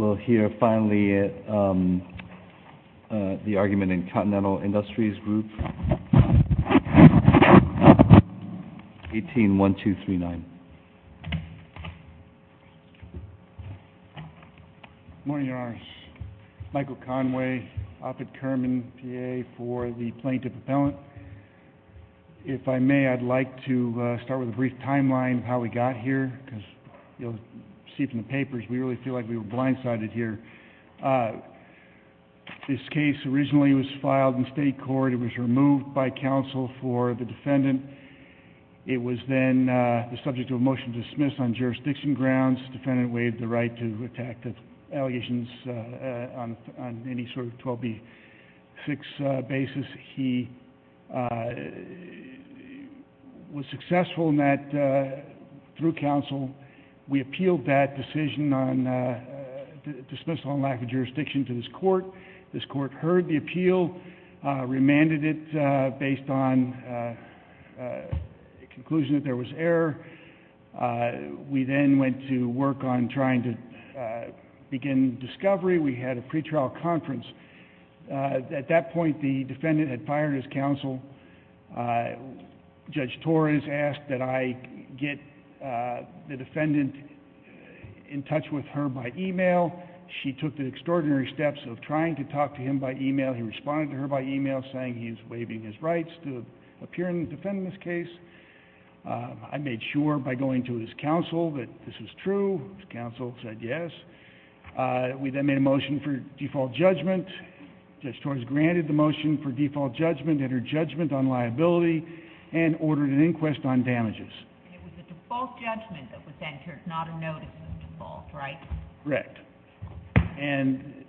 will hear finally uh... the argument in continental industries group eighteen one two three nine morning your honors michael conway opit kerman PA for the plaintiff appellant if i may i'd like to uh... start with a brief timeline of how we got here because you'll see from the papers we really feel like we were blindsided here this case originally was filed in state court it was removed by counsel for the defendant it was then uh... subject to a motion to dismiss on jurisdiction grounds defendant waived the right to attack the allegations uh... on any sort of twelve B six uh... basis he uh... was successful in that uh... through counsel we appealed that decision on uh... the dismissal on lack of jurisdiction to this court this court heard the appeal uh... remanded it uh... based on conclusion that there was error uh... we then went to work on trying to begin discovery we had a pretrial conference uh... at that point the defendant had fired his counsel uh... the defendant in touch with her by email she took the extraordinary steps of trying to talk to him by email he responded to her by email saying he's waiving his rights to appear in the defendant's case uh... i made sure by going to his counsel that this is true his counsel said yes uh... we then made a motion for default judgment judge torres granted the motion for default judgment and her judgment on liability and ordered an inquest on damages it was a default judgment that was entered not a notice of default right? correct and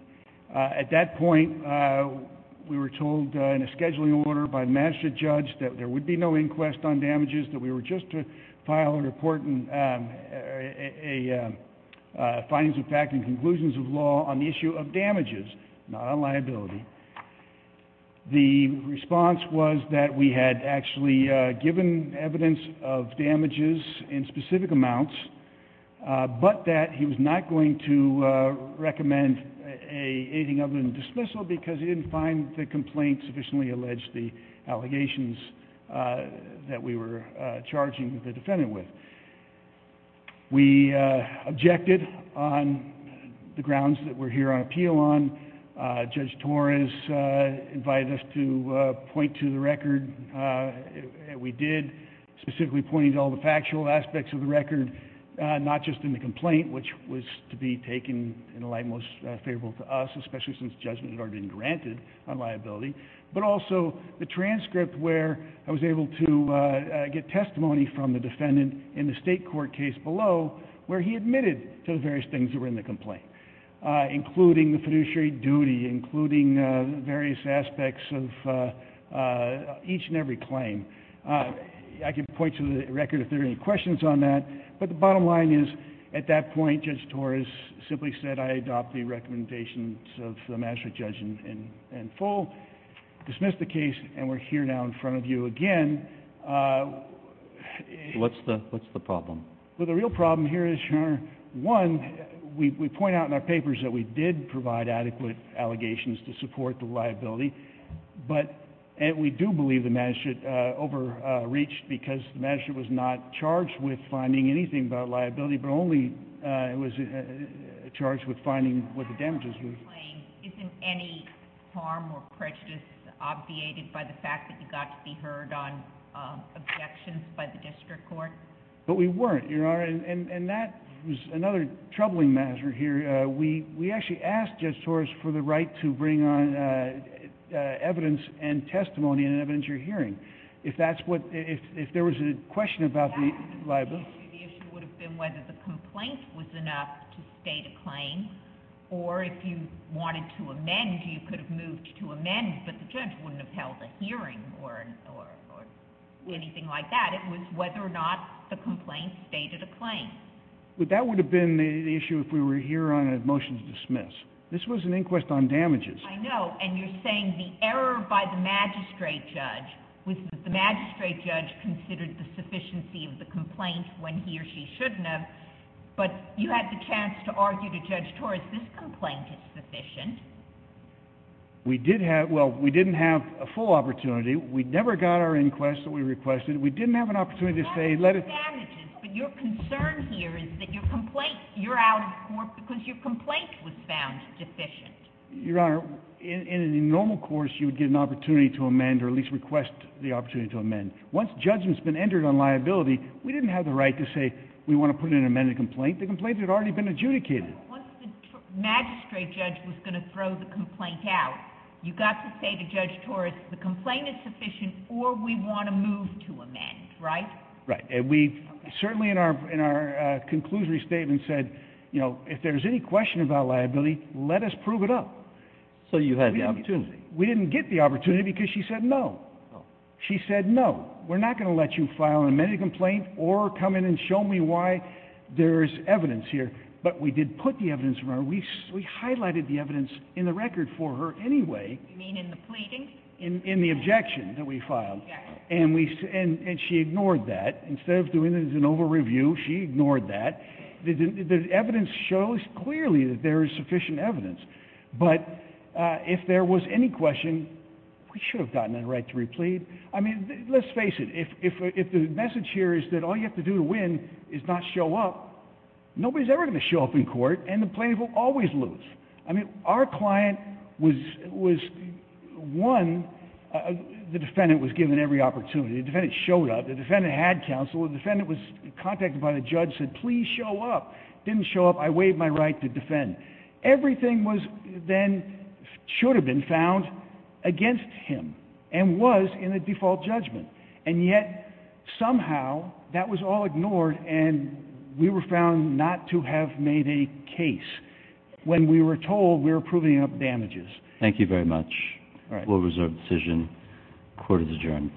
uh... at that point uh... we were told uh... in a scheduling order by master judge that there would be no inquest on damages that we were just to file a report and uh... uh... findings of fact and conclusions of law on the issue of damages not on liability the response was that we had actually uh... given evidence of damages in specific amounts uh... but that he was not going to uh... recommend anything other than dismissal because he didn't find the complaint sufficiently alleged the allegations uh... that we were uh... charging the defendant with we uh... objected on the grounds that we're here on appeal on uh... judge torres uh... invited us to uh... point to the record uh... we did specifically pointed all the factual aspects of the record uh... not just in the complaint which was to be taken in the light most favorable to us especially since judgment had already been granted on liability but also the transcript where i was able to uh... get testimony from the defendant in the state court case below where he admitted to the various things that were in the complaint uh... including the fiduciary duty including uh... various aspects of uh... uh... each and every claim uh... i can point to the record if there are any questions on that but the bottom line is at that point judge torres simply said i adopt the recommendations of the magistrate judge in in full dismiss the case and we're here now in front of you again uh... what's the what's the problem well the real problem here is one we point out in our papers that we did provide adequate allegations to support the liability but and we do believe the magistrate uh... over uh... reached because the magistrate was not charged with finding anything about liability but only uh... it was uh... charged with finding what the damages were isn't any harm or prejudice obviated by the fact that you got to be heard on uh... objections by the district court but we weren't your honor and and and that was another troubling matter here uh... we we actually asked judge torres for the right to bring on uh... uh... evidence and testimony and evidence you're hearing if that's what if if there was a question about the liability the issue would have been whether the complaint was enough to state a claim or if you wanted to amend you could have moved to amend but the judge wouldn't have held a hearing or anything like that it was whether or not the complaint stated a claim this was an inquest on damages i know and you're saying the error by the magistrate judge was that the magistrate judge considered the sufficiency of the complaint when he or she shouldn't have but you had the chance to argue to judge torres this complaint is sufficient we did have well we didn't have a full opportunity we never got our inquest that we requested we didn't have an opportunity to say let it your concern here is that your complaint you're out of court because your complaint was found deficient your honor in a normal course you would get an opportunity to amend or at least request the opportunity to amend once judgment's been entered on liability we didn't have the right to say we want to put in an amended complaint the complaint had already been adjudicated once the magistrate judge was going to throw the complaint out you got to say to judge torres the complaint is sufficient or we want to move to amend right? right and we certainly in our in our uh... conclusory statement said you know if there's any question about liability let us prove it up so you had the opportunity we didn't get the opportunity because she said no she said no we're not going to let you file an amended complaint or come in and show me why there's evidence here but we did put the evidence we highlighted the evidence in the record for her anyway you mean in the pleading? in in the objection that we filed and we and and she ignored that instead of doing it as an over review she ignored that the evidence shows clearly that there is sufficient evidence but uh... if there was any question we should have gotten the right to replead i mean let's face it if if if the message here is that all you have to do to win is not show up nobody's ever going to show up in court and the plaintiff will always lose i mean our client was was one the defendant was given every opportunity the defendant showed up the defendant had counsel the defendant was contacted by the judge said please show up didn't show up i waived my right to defend everything was then should have been found against him and was in the default judgment and yet somehow that was all ignored and we were found not to have made a case when we were told we were proving up damages thank you very much will reserve decision court is adjourned